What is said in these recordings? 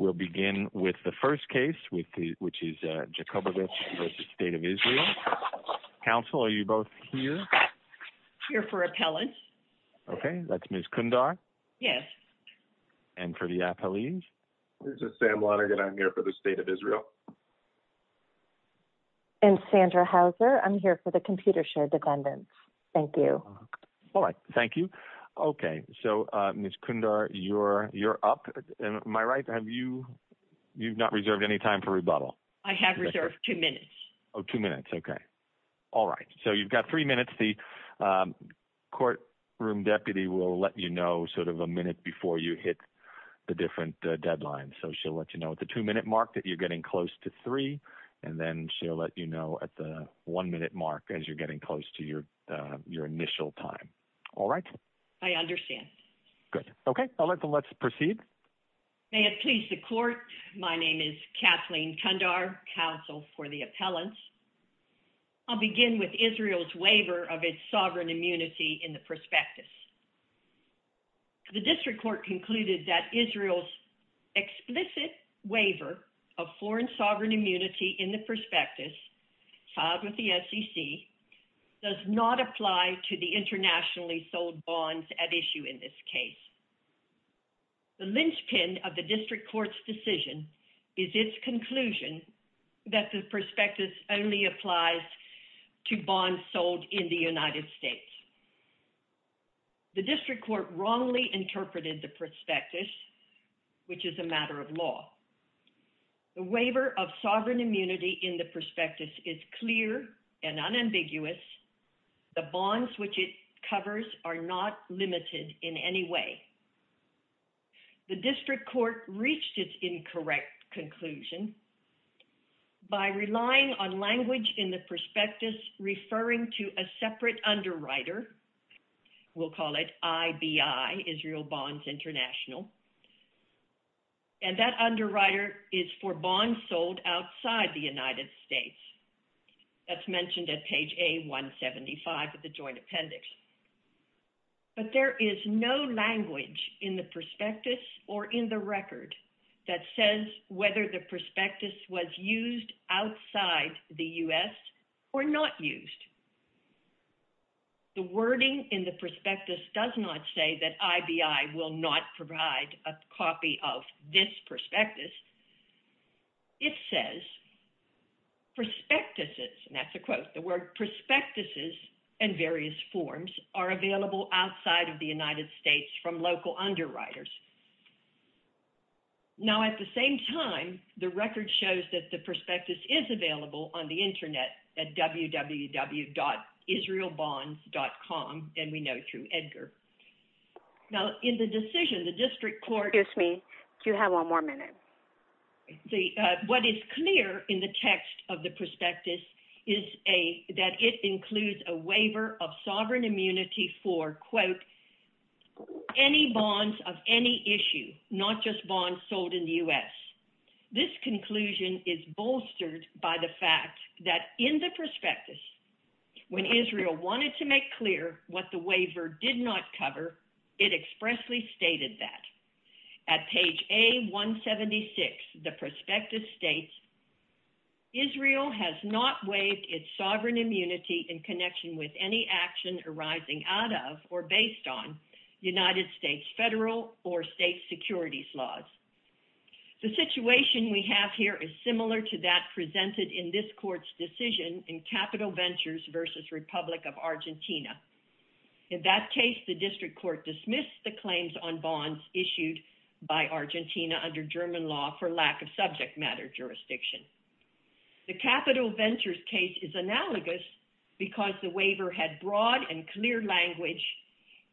We'll begin with the first case, which is Jacobovich v. State of Israel. Counsel, are you both here? Here for appellate. Okay, that's Ms. Kundar. Yes. And for the appellees? This is Sam Lonergan. I'm here for the State of Israel. And Sandra Houser. I'm here for the Computer Shared Defendants. Thank you. All right. Thank you. Okay. So, Ms. Kundar, you're up. Am I right? You've not reserved any time for rebuttal? I have reserved two minutes. Oh, two minutes. Okay. All right. So you've got three minutes. The courtroom deputy will let you know sort of a minute before you hit the different deadlines. So she'll let you know at the two-minute mark that you're getting close to three, and then she'll let you know at the one-minute mark as you're getting close to your initial time. All right? I understand. Good. Okay. Let's proceed. May it please the court, my name is Kathleen Kundar, counsel for the appellants. I'll begin with Israel's waiver of its sovereign immunity in the prospectus. The district court concluded that Israel's explicit waiver of foreign sovereign immunity in the prospectus filed with the SEC does not apply to the internationally sold bonds at issue in this case. The linchpin of the district court's decision is its conclusion that the prospectus only applies to bonds sold in the United States. The district court wrongly interpreted the prospectus, which is a matter of law. The waiver of sovereign immunity in the prospectus is clear and unambiguous. The bonds which it covers are not limited in any way. The district court reached its incorrect conclusion by relying on language in the prospectus referring to a separate underwriter. We'll call it IBI, Israel Bonds International. And that underwriter is for bonds sold outside the United States. That's mentioned at page A175 of the joint appendix. But there is no language in the prospectus or in the record that says whether the prospectus was used outside the U.S. or not used. The wording in the prospectus does not say that IBI will not provide a copy of this prospectus. It says prospectuses, and that's a quote. The word prospectuses and various forms are available outside of the United States from local underwriters. Now, at the same time, the record shows that the prospectus is available on the Internet at www.israelbonds.com, and we know through Edgar. Now, in the decision, the district court. Excuse me. Do you have one more minute? What is clear in the text of the prospectus is that it includes a waiver of sovereign immunity for, quote, any bonds of any issue, not just bonds sold in the U.S. This conclusion is bolstered by the fact that in the prospectus, when Israel wanted to make clear what the waiver did not cover, it expressly stated that. At page A176, the prospectus states, Israel has not waived its sovereign immunity in connection with any action arising out of or based on United States federal or state securities laws. The situation we have here is similar to that presented in this court's decision in Capital Ventures v. Republic of Argentina. In that case, the district court dismissed the claims on bonds issued by Argentina under German law for lack of subject matter jurisdiction. The Capital Ventures case is analogous because the waiver had broad and clear language,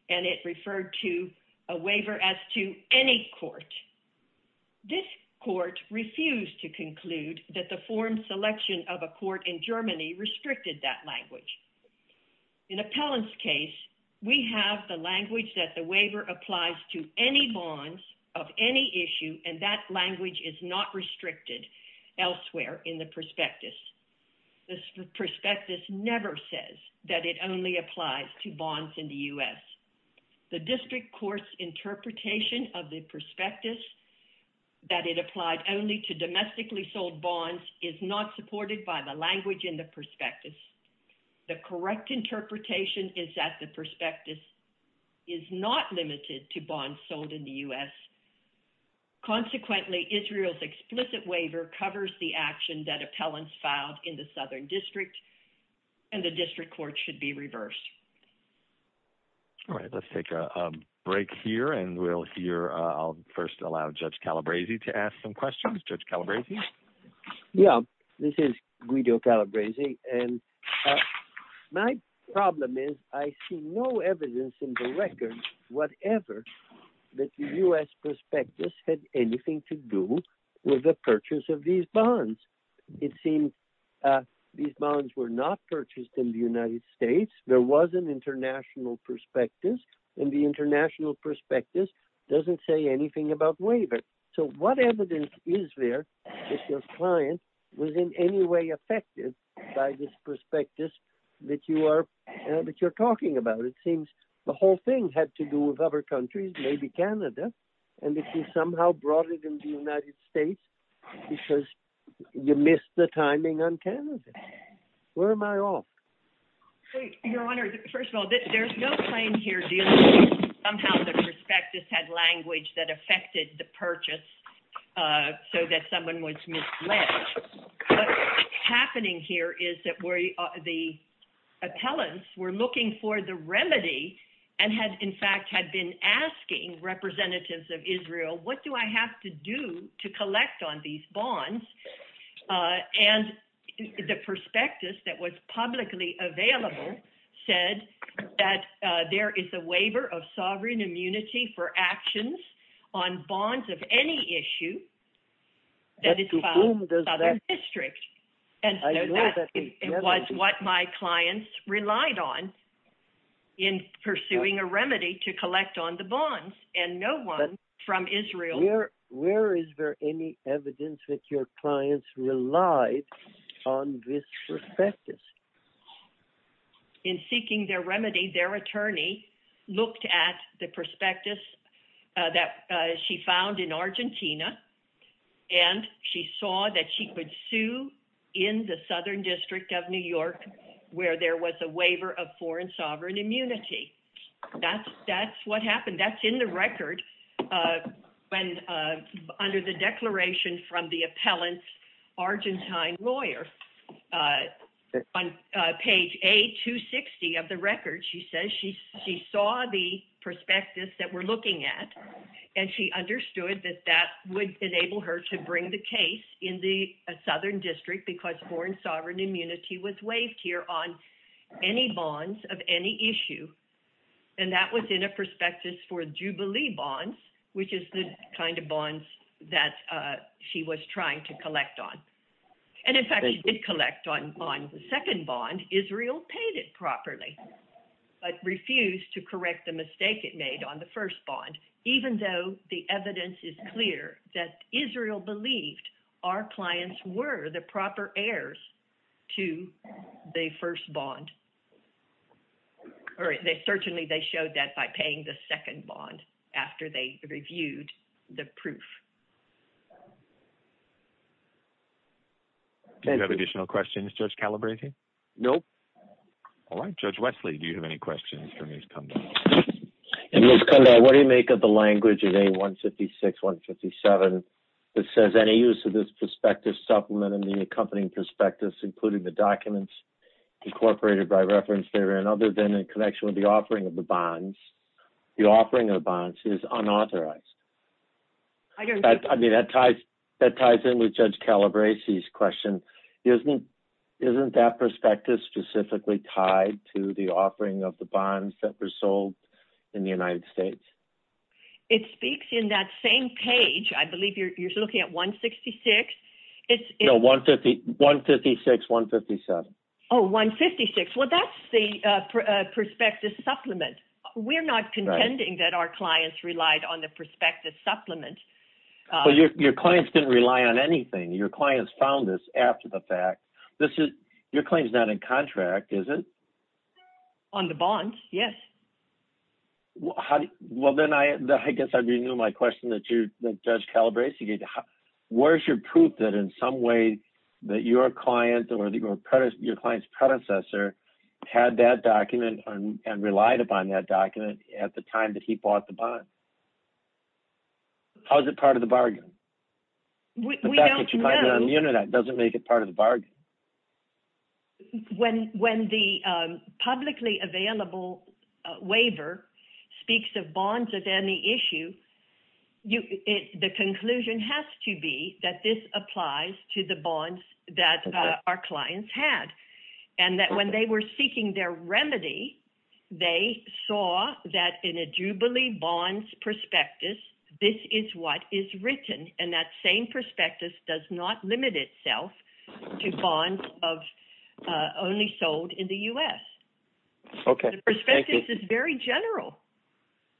and it referred to a waiver as to any court. This court refused to conclude that the foreign selection of a court in Germany restricted that language. In Appellant's case, we have the language that the waiver applies to any bonds of any issue, and that language is not restricted elsewhere in the prospectus. The prospectus never says that it only applies to bonds in the U.S. The district court's interpretation of the prospectus that it applied only to domestically sold bonds is not supported by the language in the prospectus. The correct interpretation is that the prospectus is not limited to bonds sold in the U.S. Consequently, Israel's explicit waiver covers the action that Appellant's filed in the Southern District, and the district court should be reversed. All right, let's take a break here, and we'll hear – I'll first allow Judge Calabresi to ask some questions. Judge Calabresi? Yeah, this is Guido Calabresi, and my problem is I see no evidence in the record, whatever, that the U.S. prospectus had anything to do with the purchase of these bonds. It seems these bonds were not purchased in the United States. There was an international prospectus, and the international prospectus doesn't say anything about waiver. So what evidence is there that your client was in any way affected by this prospectus that you are – that you're talking about? It seems the whole thing had to do with other countries, maybe Canada, and that you somehow brought it in the United States because you missed the timing on Canada. Where am I off? Your Honor, first of all, there's no claim here dealing with somehow the prospectus had language that affected the purchase so that someone was misled. What's happening here is that the appellants were looking for the remedy and had, in fact, had been asking representatives of Israel, what do I have to do to collect on these bonds? And the prospectus that was publicly available said that there is a waiver of sovereign immunity for actions on bonds of any issue that is filed with other districts. And so that was what my clients relied on in pursuing a remedy to collect on the bonds, and no one from Israel – Where is there any evidence that your clients relied on this prospectus? In seeking their remedy, their attorney looked at the prospectus that she found in Argentina, and she saw that she could sue in the Southern District of New York where there was a waiver of foreign sovereign immunity. That's what happened. That's in the record under the declaration from the appellant's Argentine lawyer. On page A-260 of the record, she says she saw the prospectus that we're looking at, and she understood that that would enable her to bring the case in the Southern District because foreign sovereign immunity was waived here on any bonds of any issue. And that was in a prospectus for Jubilee bonds, which is the kind of bonds that she was trying to collect on. And in fact, she did collect on the second bond. Israel paid it properly but refused to correct the mistake it made on the first bond, even though the evidence is clear that Israel believed our clients were the proper heirs to the first bond. Certainly, they showed that by paying the second bond after they reviewed the proof. Do you have additional questions, Judge Calabresi? Nope. All right. Judge Wesley, do you have any questions for Ms. Kondal? Ms. Kondal, what do you make of the language in A-156-157 that says, With any use of this prospectus supplement and the accompanying prospectus, including the documents incorporated by reference therein, other than in connection with the offering of the bonds, the offering of the bonds is unauthorized. I mean, that ties in with Judge Calabresi's question. Isn't that prospectus specifically tied to the offering of the bonds that were sold in the United States? It speaks in that same page. I believe you're looking at A-156. No, A-156-157. Oh, A-156. Well, that's the prospectus supplement. We're not contending that our clients relied on the prospectus supplement. Well, your clients didn't rely on anything. Your clients found this after the fact. Your claim's not in contract, is it? On the bonds, yes. Well, then I guess I renew my question that Judge Calabresi gave. Where's your proof that in some way that your client or your client's predecessor had that document and relied upon that document at the time that he bought the bond? How is it part of the bargain? We don't know. The fact that you find it on the Internet doesn't make it part of the bargain. When the publicly available waiver speaks of bonds as any issue, the conclusion has to be that this applies to the bonds that our clients had. And that when they were seeking their remedy, they saw that in a jubilee bonds prospectus, this is what is written. And that same prospectus does not limit itself to bonds only sold in the U.S. Okay. Thank you. The prospectus is very general.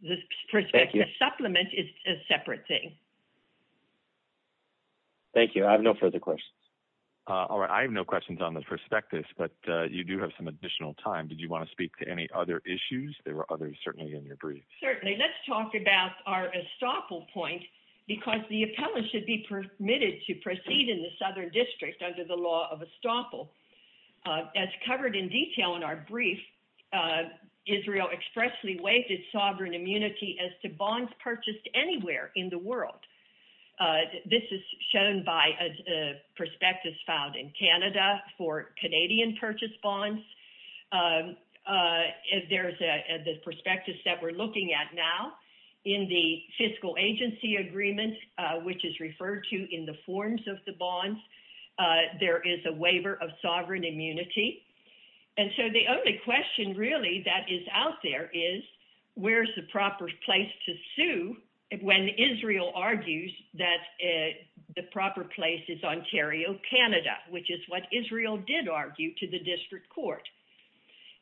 The prospectus supplement is a separate thing. Thank you. I have no further questions. All right. I have no questions on the prospectus, but you do have some additional time. Did you want to speak to any other issues? There were others certainly in your brief. Certainly. Let's talk about our estoppel point, because the appellant should be permitted to proceed in the Southern District under the law of estoppel. As covered in detail in our brief, Israel expressly waived its sovereign immunity as to bonds purchased anywhere in the world. This is shown by a prospectus filed in Canada for Canadian purchase bonds. There's a prospectus that we're looking at now in the fiscal agency agreement, which is referred to in the forms of the bonds. There is a waiver of sovereign immunity. And so the only question really that is out there is where's the proper place to sue when Israel argues that the proper place is Ontario, Canada, which is what Israel did argue to the district court.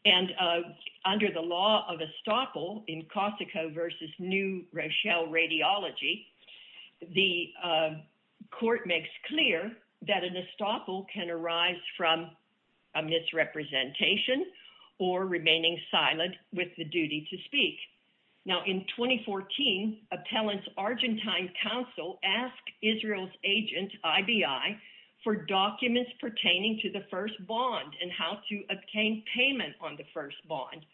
And under the law of estoppel in Costico versus new Rochelle radiology, the court makes clear that an estoppel can arise from a misrepresentation or remaining silent with the duty to speak. Now, in 2014, appellant's Argentine counsel asked Israel's agent, IBI, for documents pertaining to the first bond and how to obtain payment on the first bond.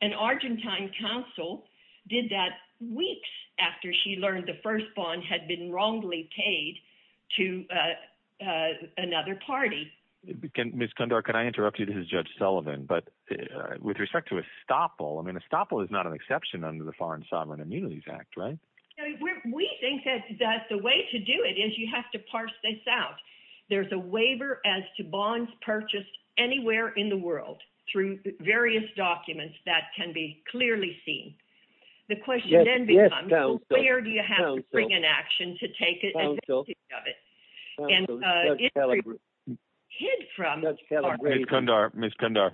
And Argentine counsel did that weeks after she learned the first bond had been wrongly paid to another party. Ms. Condor, can I interrupt you? This is Judge Sullivan. But with respect to estoppel, I mean, estoppel is not an exception under the Foreign Sovereign Immunities Act, right? We think that the way to do it is you have to parse this out. There's a waiver as to bonds purchased anywhere in the world through various documents that can be clearly seen. The question then becomes where do you have to bring an action to take advantage of it? Ms. Condor,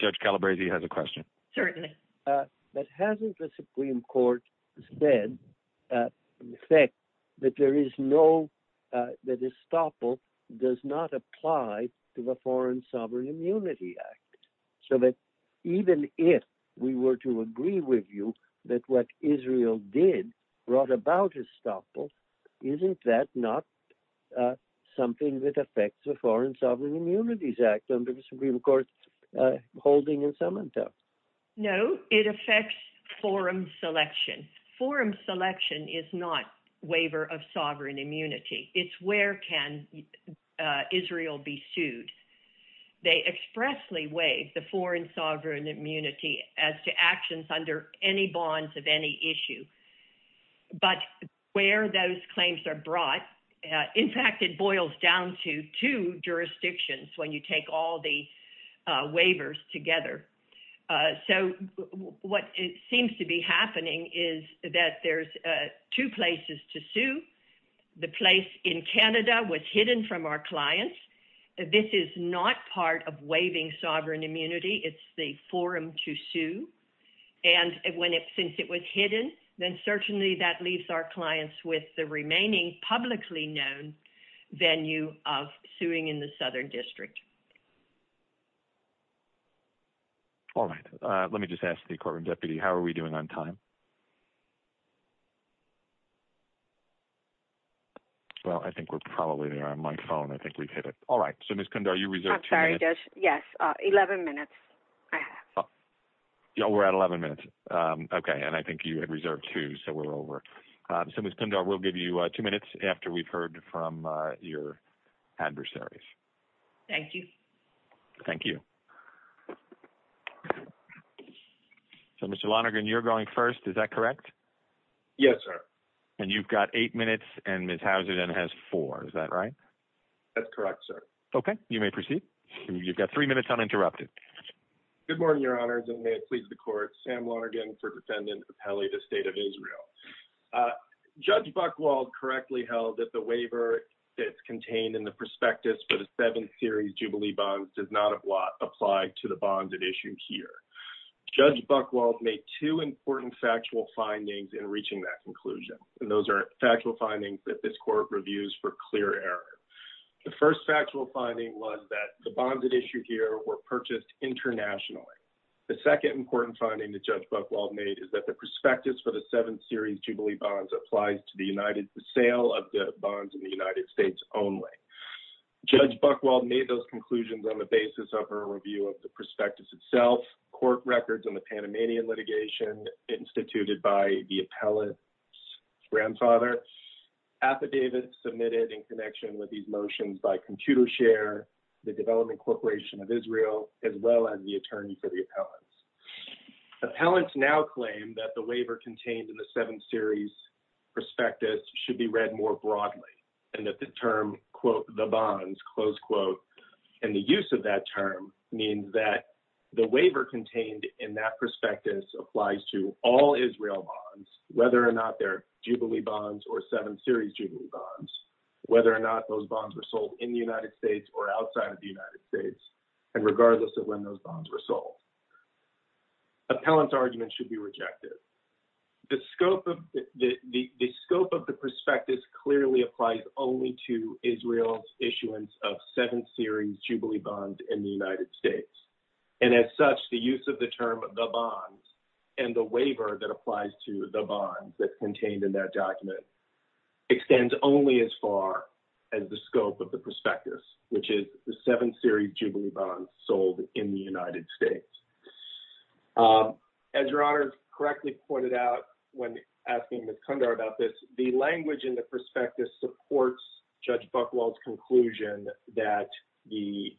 Judge Calabresi has a question. Certainly. But hasn't the Supreme Court said that there is no – that estoppel does not apply to the Foreign Sovereign Immunity Act? So that even if we were to agree with you that what Israel did brought about estoppel, isn't that not something that affects the Foreign Sovereign Immunities Act under the Supreme Court's holding in Samantha? No, it affects forum selection. Forum selection is not waiver of sovereign immunity. It's where can Israel be sued. They expressly waive the Foreign Sovereign Immunity as to actions under any bonds of any issue. But where those claims are brought – in fact, it boils down to two jurisdictions when you take all the waivers together. So what seems to be happening is that there's two places to sue. The place in Canada was hidden from our clients. This is not part of waiving sovereign immunity. It's the forum to sue. And since it was hidden, then certainly that leaves our clients with the remaining publicly known venue of suing in the Southern District. All right. Let me just ask the courtroom deputy, how are we doing on time? Well, I think we're probably there on my phone. I think we've hit it. All right. So Ms. Kundar, you reserve two minutes. I'm sorry, Josh. Yes, 11 minutes I have. Oh, we're at 11 minutes. Okay. And I think you had reserved two, so we're over. So Ms. Kundar, we'll give you two minutes after we've heard from your adversaries. Thank you. Thank you. So, Mr. Lonergan, you're going first. Is that correct? Yes, sir. And you've got eight minutes, and Ms. Hauser then has four. Is that right? That's correct, sir. Okay. You may proceed. You've got three minutes uninterrupted. Good morning, Your Honors, and may it please the Court. Sam Lonergan for Defendant Appelli, the State of Israel. Judge Buchwald correctly held that the waiver that's contained in the prospectus for the Seventh Series Jubilee Bonds does not apply to the bonds at issue here. Judge Buchwald made two important factual findings in reaching that conclusion, and those are factual findings that this Court reviews for clear error. The first factual finding was that the bonds at issue here were purchased internationally. The second important finding that Judge Buchwald made is that the prospectus for the Seventh Series Jubilee Bonds applies to the sale of the bonds in the United States only. Judge Buchwald made those conclusions on the basis of her review of the prospectus itself, court records on the Panamanian litigation instituted by the appellate's grandfather, affidavits submitted in connection with these motions by Computershare, the Development Corporation of Israel, as well as the attorney for the appellants. Appellants now claim that the waiver contained in the Seventh Series prospectus should be read more broadly and that the term, quote, the bonds, close quote, and the use of that term means that the waiver contained in that prospectus applies to all Israel bonds, whether or not they're Jubilee Bonds or Seventh Series Jubilee Bonds, whether or not those bonds were sold in the United States or outside of the United States, and regardless of when those bonds were sold. Appellant's argument should be rejected. The scope of the prospectus clearly applies only to Israel's issuance of Seventh Series Jubilee Bonds in the United States, and as such, the use of the term the bonds and the waiver that applies to the bonds that's contained in that document extends only as far as the scope of the prospectus, which is the Seventh Series Jubilee Bonds sold in the United States. As Your Honor correctly pointed out when asking Ms. Kundra about this, the language in the prospectus supports Judge Buchwald's conclusion that the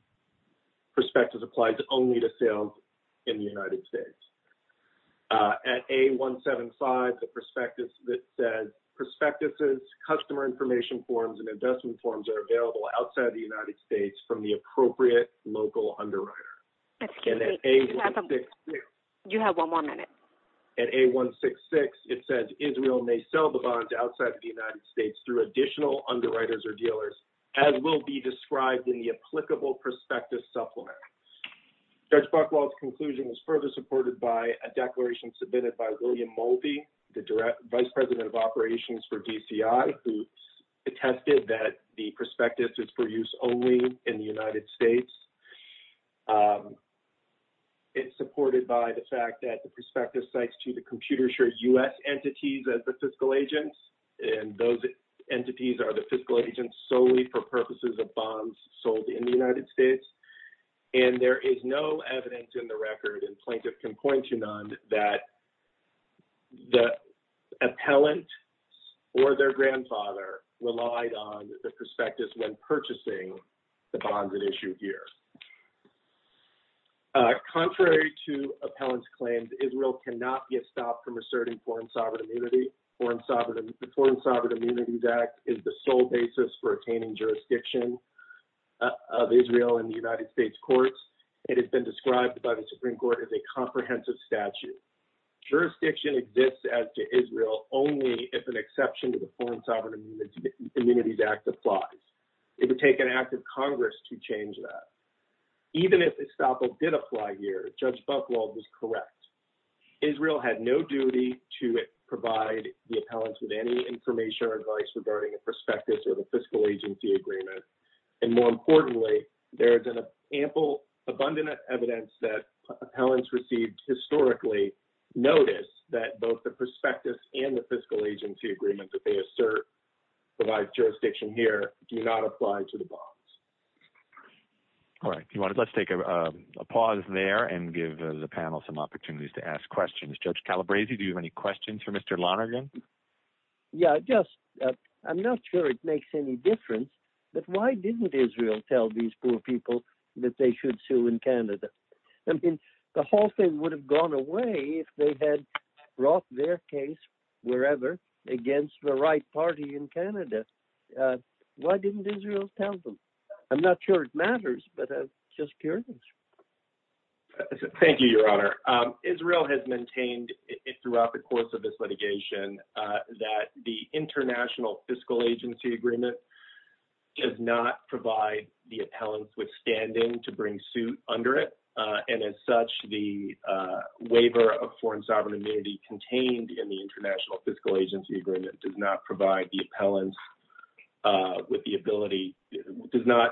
Israel may sell the bonds outside of the United States through additional underwriters or dealers, as will be described in the applicable prospectus supplement. The prospectus does not apply to Israel. The record is supported by a declaration submitted by William Moldy, the Vice President of Operations for DCI, who attested that the prospectus is for use only in the United States. It's supported by the fact that the prospectus cites to the computer-share U.S. entities as the fiscal agents, and those entities are the fiscal agents solely for purposes of bonds sold in the United States, and there is no evidence in the record, and Plaintiff can point to none, that the appellant or their grandfather relied on the prospectus when purchasing the bonds at issue here. Contrary to appellant's claims, Israel cannot get stopped from reserting foreign sovereign immunity. The Foreign Sovereign Immunities Act is the sole basis for attaining jurisdiction of Israel in the United States courts. It has been described by the Supreme Court as a comprehensive statute. Jurisdiction exists as to Israel only if an exception to the Foreign Sovereign Immunities Act applies. It would take an act of Congress to change that. Even if estoppel did apply here, Judge Buchwald was correct. Israel had no duty to provide the appellants with any information or advice regarding a prospectus or the fiscal agency agreement, and more importantly, there is ample, abundant evidence that appellants received historically notice that both the prospectus and the fiscal agency agreement that they assert provides jurisdiction here do not apply to the bonds. All right. Let's take a pause there and give the panel some opportunities to ask questions. Judge Calabresi, do you have any questions for Mr. Lonergan? Yeah, just I'm not sure it makes any difference, but why didn't Israel tell these poor people that they should sue in Canada? I mean, the whole thing would have gone away if they had brought their case wherever against the right party in Canada. Why didn't Israel tell them? I'm not sure it matters, but I'm just curious. Thank you, Your Honor. Israel has maintained throughout the course of this litigation that the appellants withstanding to bring suit under it, and as such, the waiver of foreign sovereign immunity contained in the international fiscal agency agreement does not provide the appellants with the ability, does not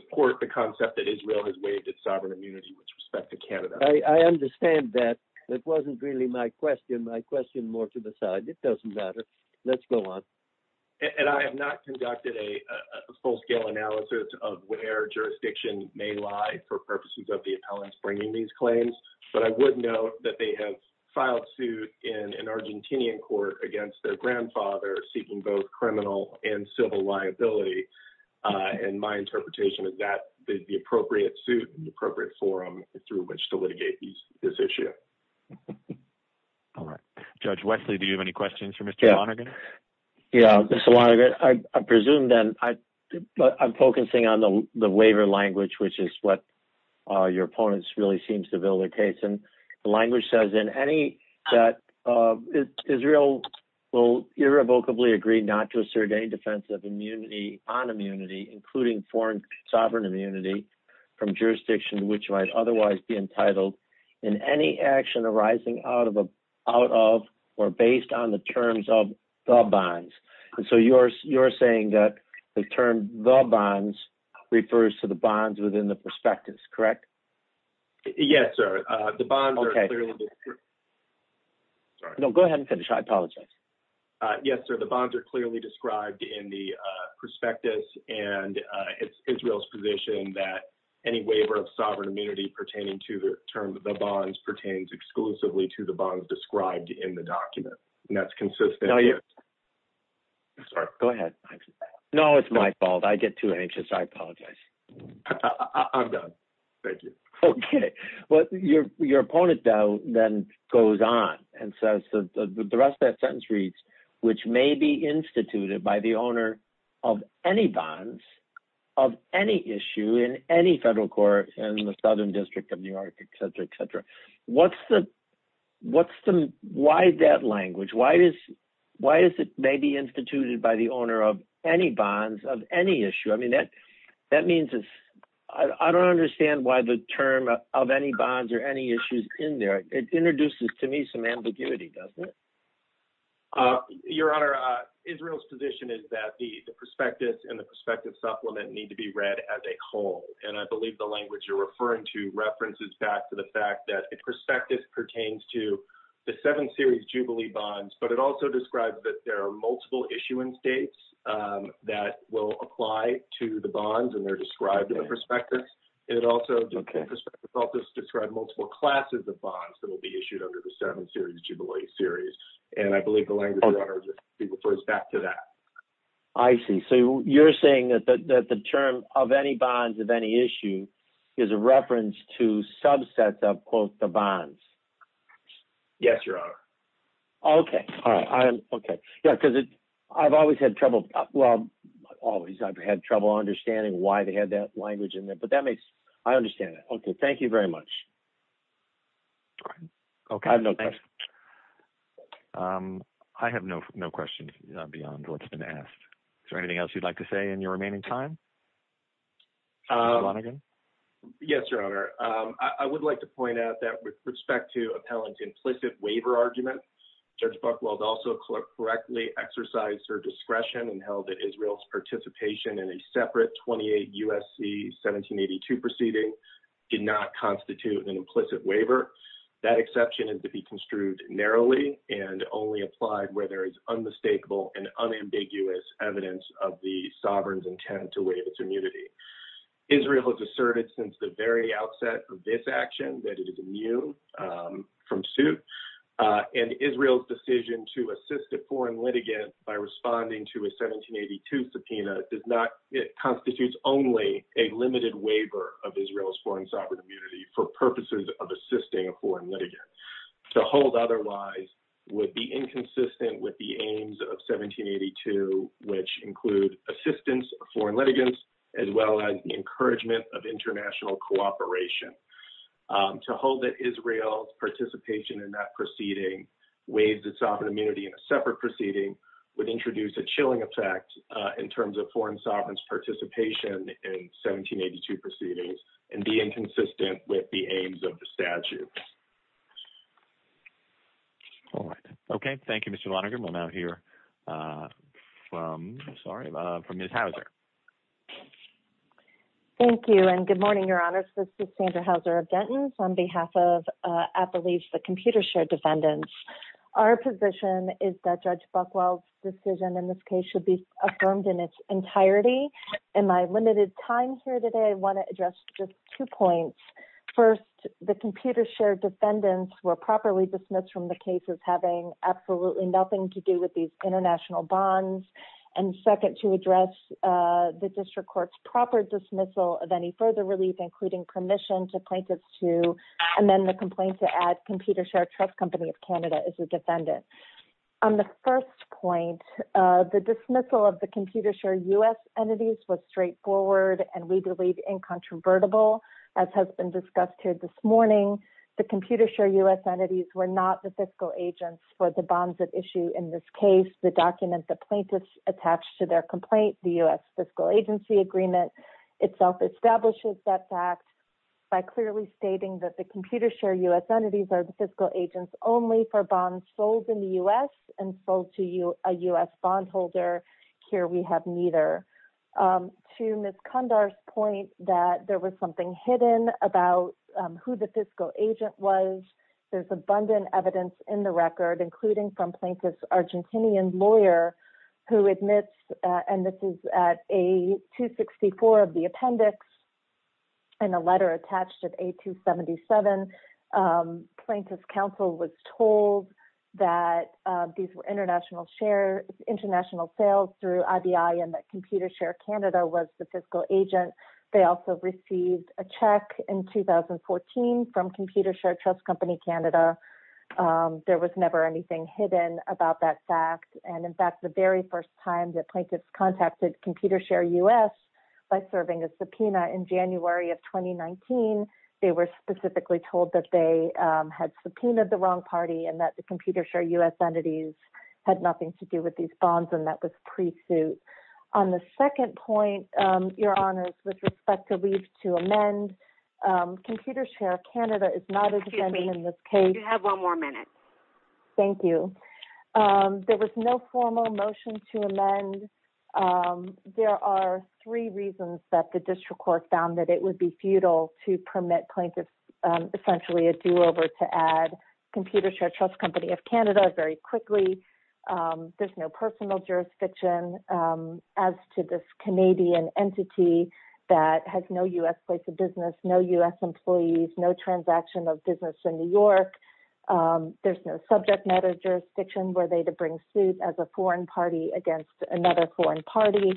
support the concept that Israel has waived its sovereign immunity with respect to Canada. I understand that. That wasn't really my question. My question more to the side. It doesn't matter. Let's go on. And I have not conducted a full-scale analysis of where jurisdiction may lie for purposes of the appellants bringing these claims, but I would note that they have filed suit in an Argentinian court against their grandfather seeking both criminal and civil liability, and my interpretation is that the appropriate suit and the appropriate forum through which to litigate this issue. All right. Judge Wesley, do you have any questions for Mr. Lonergan? Yeah. Mr. Lonergan, I presume that I'm focusing on the waiver language, which is what your opponents really seem to vilify. The language says in any that Israel will irrevocably agree not to assert any defense of immunity on immunity, including foreign sovereign immunity from jurisdiction which might otherwise be entitled in any action arising out of or based on the terms of the bonds. And so you're saying that the term the bonds refers to the bonds within the prospectus, correct? Yes, sir. The bonds are clearly described. No, go ahead and finish. I apologize. Yes, sir. The bonds are clearly described in the prospectus, and it's Israel's position that any waiver of sovereign immunity pertaining to the terms of the bonds described in the document, and that's consistent. Sorry. Go ahead. No, it's my fault. I get too anxious. I apologize. I'm done. Thank you. Okay. Well, your opponent, though, then goes on and says the rest of that sentence reads, which may be instituted by the owner of any bonds of any issue in any federal court in the Southern District of New York, et cetera, et cetera. Why that language? Why is it may be instituted by the owner of any bonds of any issue? I mean, that means it's – I don't understand why the term of any bonds or any issues in there. It introduces to me some ambiguity, doesn't it? Your Honor, Israel's position is that the prospectus and the prospective supplement need to be read as a whole, and I believe the language you're saying is that the prospectus pertains to the seven series jubilee bonds, but it also describes that there are multiple issuance dates that will apply to the bonds, and they're described in the prospectus. It also – the prospectus also describes multiple classes of bonds that will be issued under the seven series jubilee series, and I believe the language, Your Honor, throws back to that. I see. So you're saying that the term of any bonds of any issue is a reference to subsets of, quote, the bonds. Yes, Your Honor. Okay. All right. Okay. Yeah, because I've always had trouble – well, not always. I've had trouble understanding why they had that language in there, but that makes – I understand that. Okay. Thank you very much. Okay. I have no questions. I have no questions beyond what's been asked. Is there anything else you'd like to say in your remaining time? Your Honor? Yes, Your Honor. I would like to point out that with respect to appellant's implicit waiver argument, Judge Buchwald also correctly exercised her discretion and held that Israel's participation in a separate 28 U.S.C. 1782 proceeding did not constitute an implicit waiver. That exception is to be construed narrowly and only applied where there is unmistakable and unambiguous evidence of the sovereign's intent to waive its immunity. Israel has asserted since the very outset of this action that it is immune from suit, and Israel's decision to assist a foreign litigant by responding to a 1782 subpoena constitutes only a limited waiver of Israel's foreign sovereign immunity for purposes of assisting a foreign litigant. To hold otherwise would be inconsistent with the aims of 1782, which include assistance of foreign litigants as well as the encouragement of international cooperation. To hold that Israel's participation in that proceeding waives its sovereign immunity in a separate proceeding would introduce a chilling effect in terms of foreign sovereign's participation in 1782 proceedings and be inconsistent with the aims of the statute. All right. Okay. Thank you, Mr. Lonergan. We'll now hear from Ms. Hauser. Thank you, and good morning, Your Honors. This is Sandra Hauser of Denton on behalf of, I believe, the computer-shared defendants. Our position is that Judge Buchwald's decision in this case should be affirmed in its entirety. In my limited time here today, I want to address just two points. First, the computer-shared defendants were properly dismissed from the case as having absolutely nothing to do with these international bonds. And second, to address the district court's proper dismissal of any further relief, including permission to plaintiffs to amend the complaint to add computer-shared trust company of Canada as a defendant. On the first point, the dismissal of the computer-shared U.S. entities was straightforward and legally incontrovertible, as has been discussed here this morning. The computer-shared U.S. entities were not the fiscal agents for the bonds at issue in this case. The document the plaintiffs attached to their complaint, the U.S. fiscal agency agreement, itself establishes that fact by clearly stating that the computer-shared U.S. entities are the fiscal agents only for bonds sold in the U.S. and sold to a U.S. bondholder. Here we have neither. To Ms. Condar's point that there was something hidden about who the fiscal agent was. There's abundant evidence in the record, including from plaintiff's Argentinian lawyer who admits, and this is at A-264 of the appendix, and a letter attached at A-277. Plaintiff's counsel was told that these were international share, international sales through IBI and that computer-shared Canada was the fiscal agent. They also received a check in 2014 from computer-shared trust company Canada. There was never anything hidden about that fact. And in fact, the very first time that plaintiffs contacted computer-shared U.S. by serving a subpoena in January of 2019, they were specifically told that they had subpoenaed the wrong party and that the computer-shared U.S. entities had nothing to do with these bonds. And that was pre-suit. On the second point, your Honor, with respect to leave to amend computer-shared Canada is not a defendant in this case. You have one more minute. Thank you. There was no formal motion to amend. There are three reasons that the district court found that it would be futile to permit plaintiffs, essentially a do-over to add computer-shared trust company of Canada very quickly. There's no personal jurisdiction as to this Canadian entity that has no U.S. place of business, no U.S. employees, no transaction of business in New York. There's no subject matter jurisdiction where they to bring suit as a foreign party against another foreign party.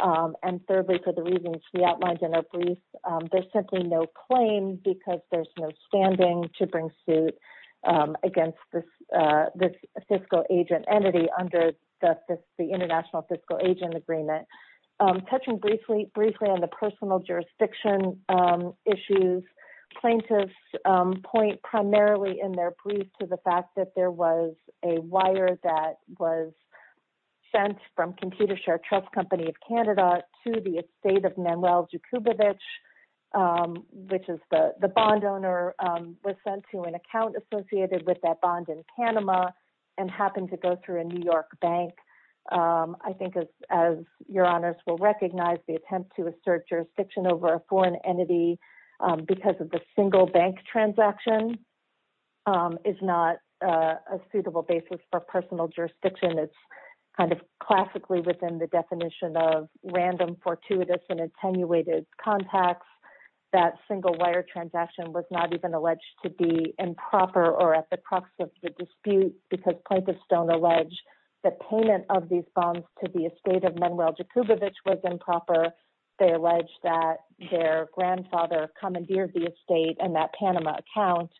And thirdly, for the reasons we outlined in a brief, there's simply no claim because there's no standing to bring suit against this fiscal agent entity under the international fiscal agent agreement. So there's simply no standing to bring suit. So I'm just going to, I'm just going to touch on briefly briefly on the personal jurisdiction issues. Plaintiffs point primarily in their brief to the fact that there was a wire that was. Sent from computer share trust company of Canada to the estate of Manuel. Which is the, the bond owner. And the wire was sent to an account associated with that bond in Panama. And happened to go through a New York bank. I think as, as your honors will recognize the attempt to assert jurisdiction over a foreign entity. Because of the single bank transaction. Is not a suitable basis for personal jurisdiction. Kind of classically within the definition of random fortuitous and attenuated contacts. The, the, the, the, the, the, the, the, the, the, the, the, the, the single wire transaction. That single wire transaction was not even alleged to be improper or at the crux of the dispute because plaintiffs don't allege. The payment of these bombs to the estate of Manuel. Jacobovits was improper. They allege that their grandfather commandeered the estate and that Panama account.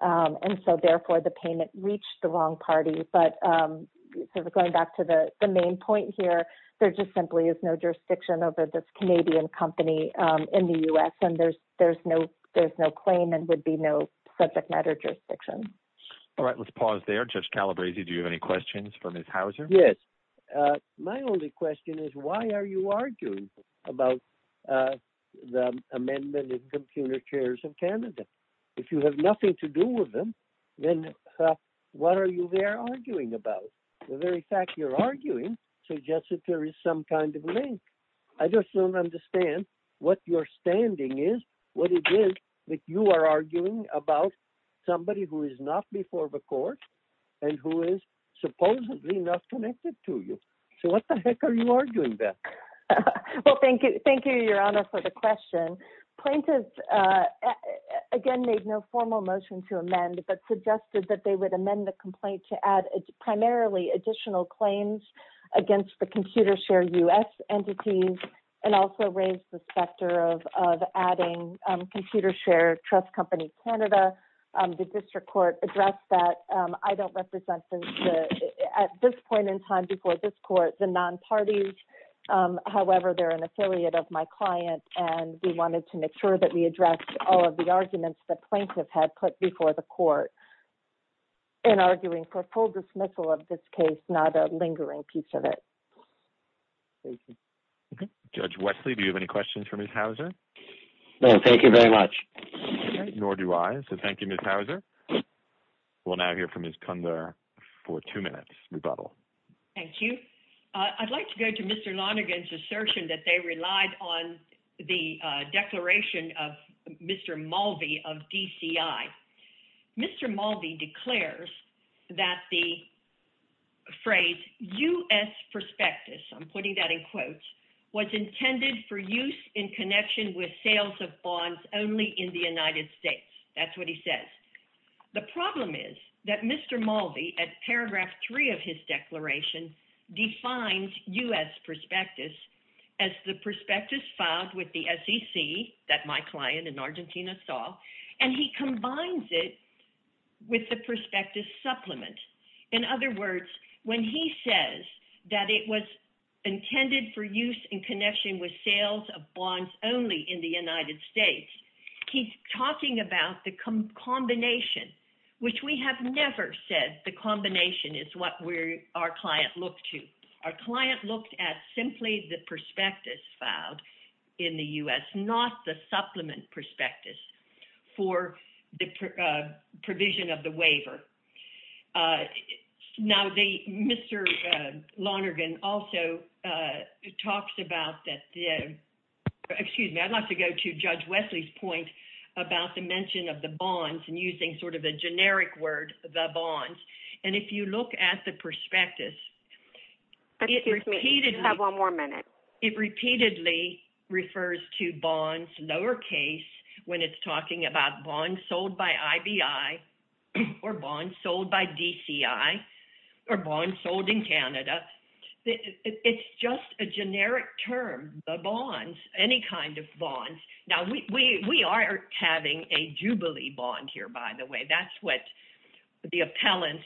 And so therefore the payment reached the wrong party, but. So the, going back to the main point here, there just simply is no jurisdiction over this Canadian company in the U S and there's, there's no, there's no claim and would be no subject matter jurisdiction. All right. Let's pause there. Judge Calabresi. Do you have any questions from his house? Yes. My only question is why are you arguing about. The amendment is computer chairs in Canada. If you have nothing to do with them, then. What are you there arguing about the very fact you're arguing. So just that there is some kind of link. I just don't understand what your standing is. What it is that you are arguing about. Somebody who is not before the court. And who is supposedly not connected to you. So what the heck are you arguing that. Well, thank you. Thank you, your honor for the question. Okay. Thank you. Plaintiff. Again, made no formal motion to amend that suggested that they would amend the complaint to add primarily additional claims. Against the computer share us entities. And also raised the specter of, of adding computer share. Trust company, Canada. The district court address that I don't represent. At this point in time before this court, the non parties, however, they're an affiliate of my client. And we wanted to make sure that we address all of the arguments that plaintiff had put before the court. And arguing for full dismissal of this case, not a lingering piece of it. Judge Wesley, do you have any questions for me? No, thank you very much. Nor do I. So thank you. Okay. Thank you. Thank you. We'll now hear from his Cunder. For two minutes. Thank you. I'd like to go to mr. Lonergan's assertion that they relied on the declaration of mr. Mulvey of DCI. Mr. Mulvey declares. That the. I'm putting that in quotes. Was intended for use in connection with sales of bonds only in the United States. That's what he says. The problem is that mr. Mulvey at paragraph three of his declaration. Defined us perspectives. As the perspectives filed with the sec that my client in Argentina saw. And he combines it. With the perspective supplement. In other words, When he says that it was. Intended for use in connection with sales of bonds only in the United States. He's talking about the combination. Which we have never said the combination is what we're our client looked to. Our client looked at simply the perspectives filed. In the U S not the supplement perspectives. For the. Provision of the waiver. So, Now the Mr. Lonergan also. It talks about that. Excuse me. I'd like to go to judge Wesley's point. About the mention of the bonds and using sort of a generic word. The bonds. And if you look at the perspectives. It repeatedly have one more minute. It repeatedly. Refers to bonds lowercase. When it's talking about bonds sold by IBI. Or bonds sold by DCI. Or bond sold in Canada. It's just a generic term. The bonds, any kind of bond. Now we, we, we are. Having a Jubilee bond here, by the way, that's what. The appellants.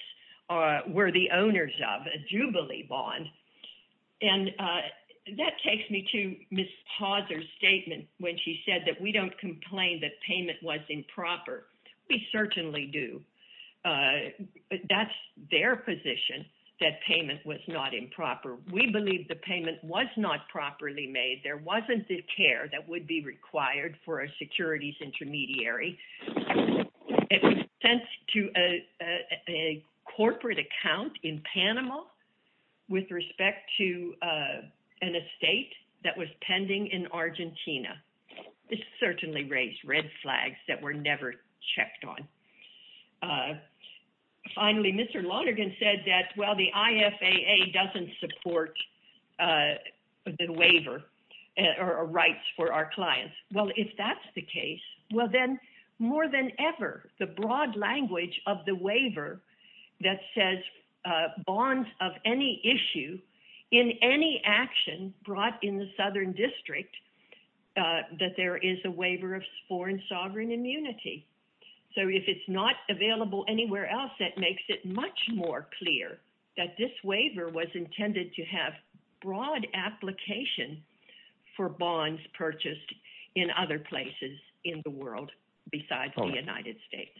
We're the owners of a Jubilee bond. Okay. And that takes me to miss Hauser statement. When she said that we don't complain that payment was improper. We certainly do. That's their position. That payment was not improper. We believe the payment was not properly made. There wasn't the care that would be required for a securities intermediary. To a corporate account in Panama. With respect to an estate that was pending in Argentina. It's certainly raised red flags that were never checked on. Finally, Mr. Lonergan said that, well, the IFA doesn't support. A waiver. Or rights for our clients. Well, if that's the case, well then. More than ever the broad language of the waiver. That says. Bonds of any issue. In any action brought in the Southern district. That there is a waiver of foreign sovereign immunity. So if it's not available anywhere else, that makes it much more clear that this waiver was intended to have. Broad application. For bonds purchased. In other places in the world. Besides the United States.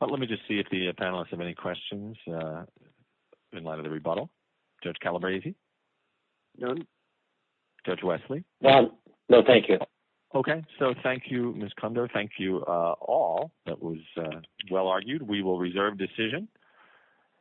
Let me just see if the panelists have any questions. In light of the rebuttal. Judge Calabresi. Judge Wesley. No, thank you. Okay. So thank you. All right. Ms. Condor. Thank you all. That was well-argued.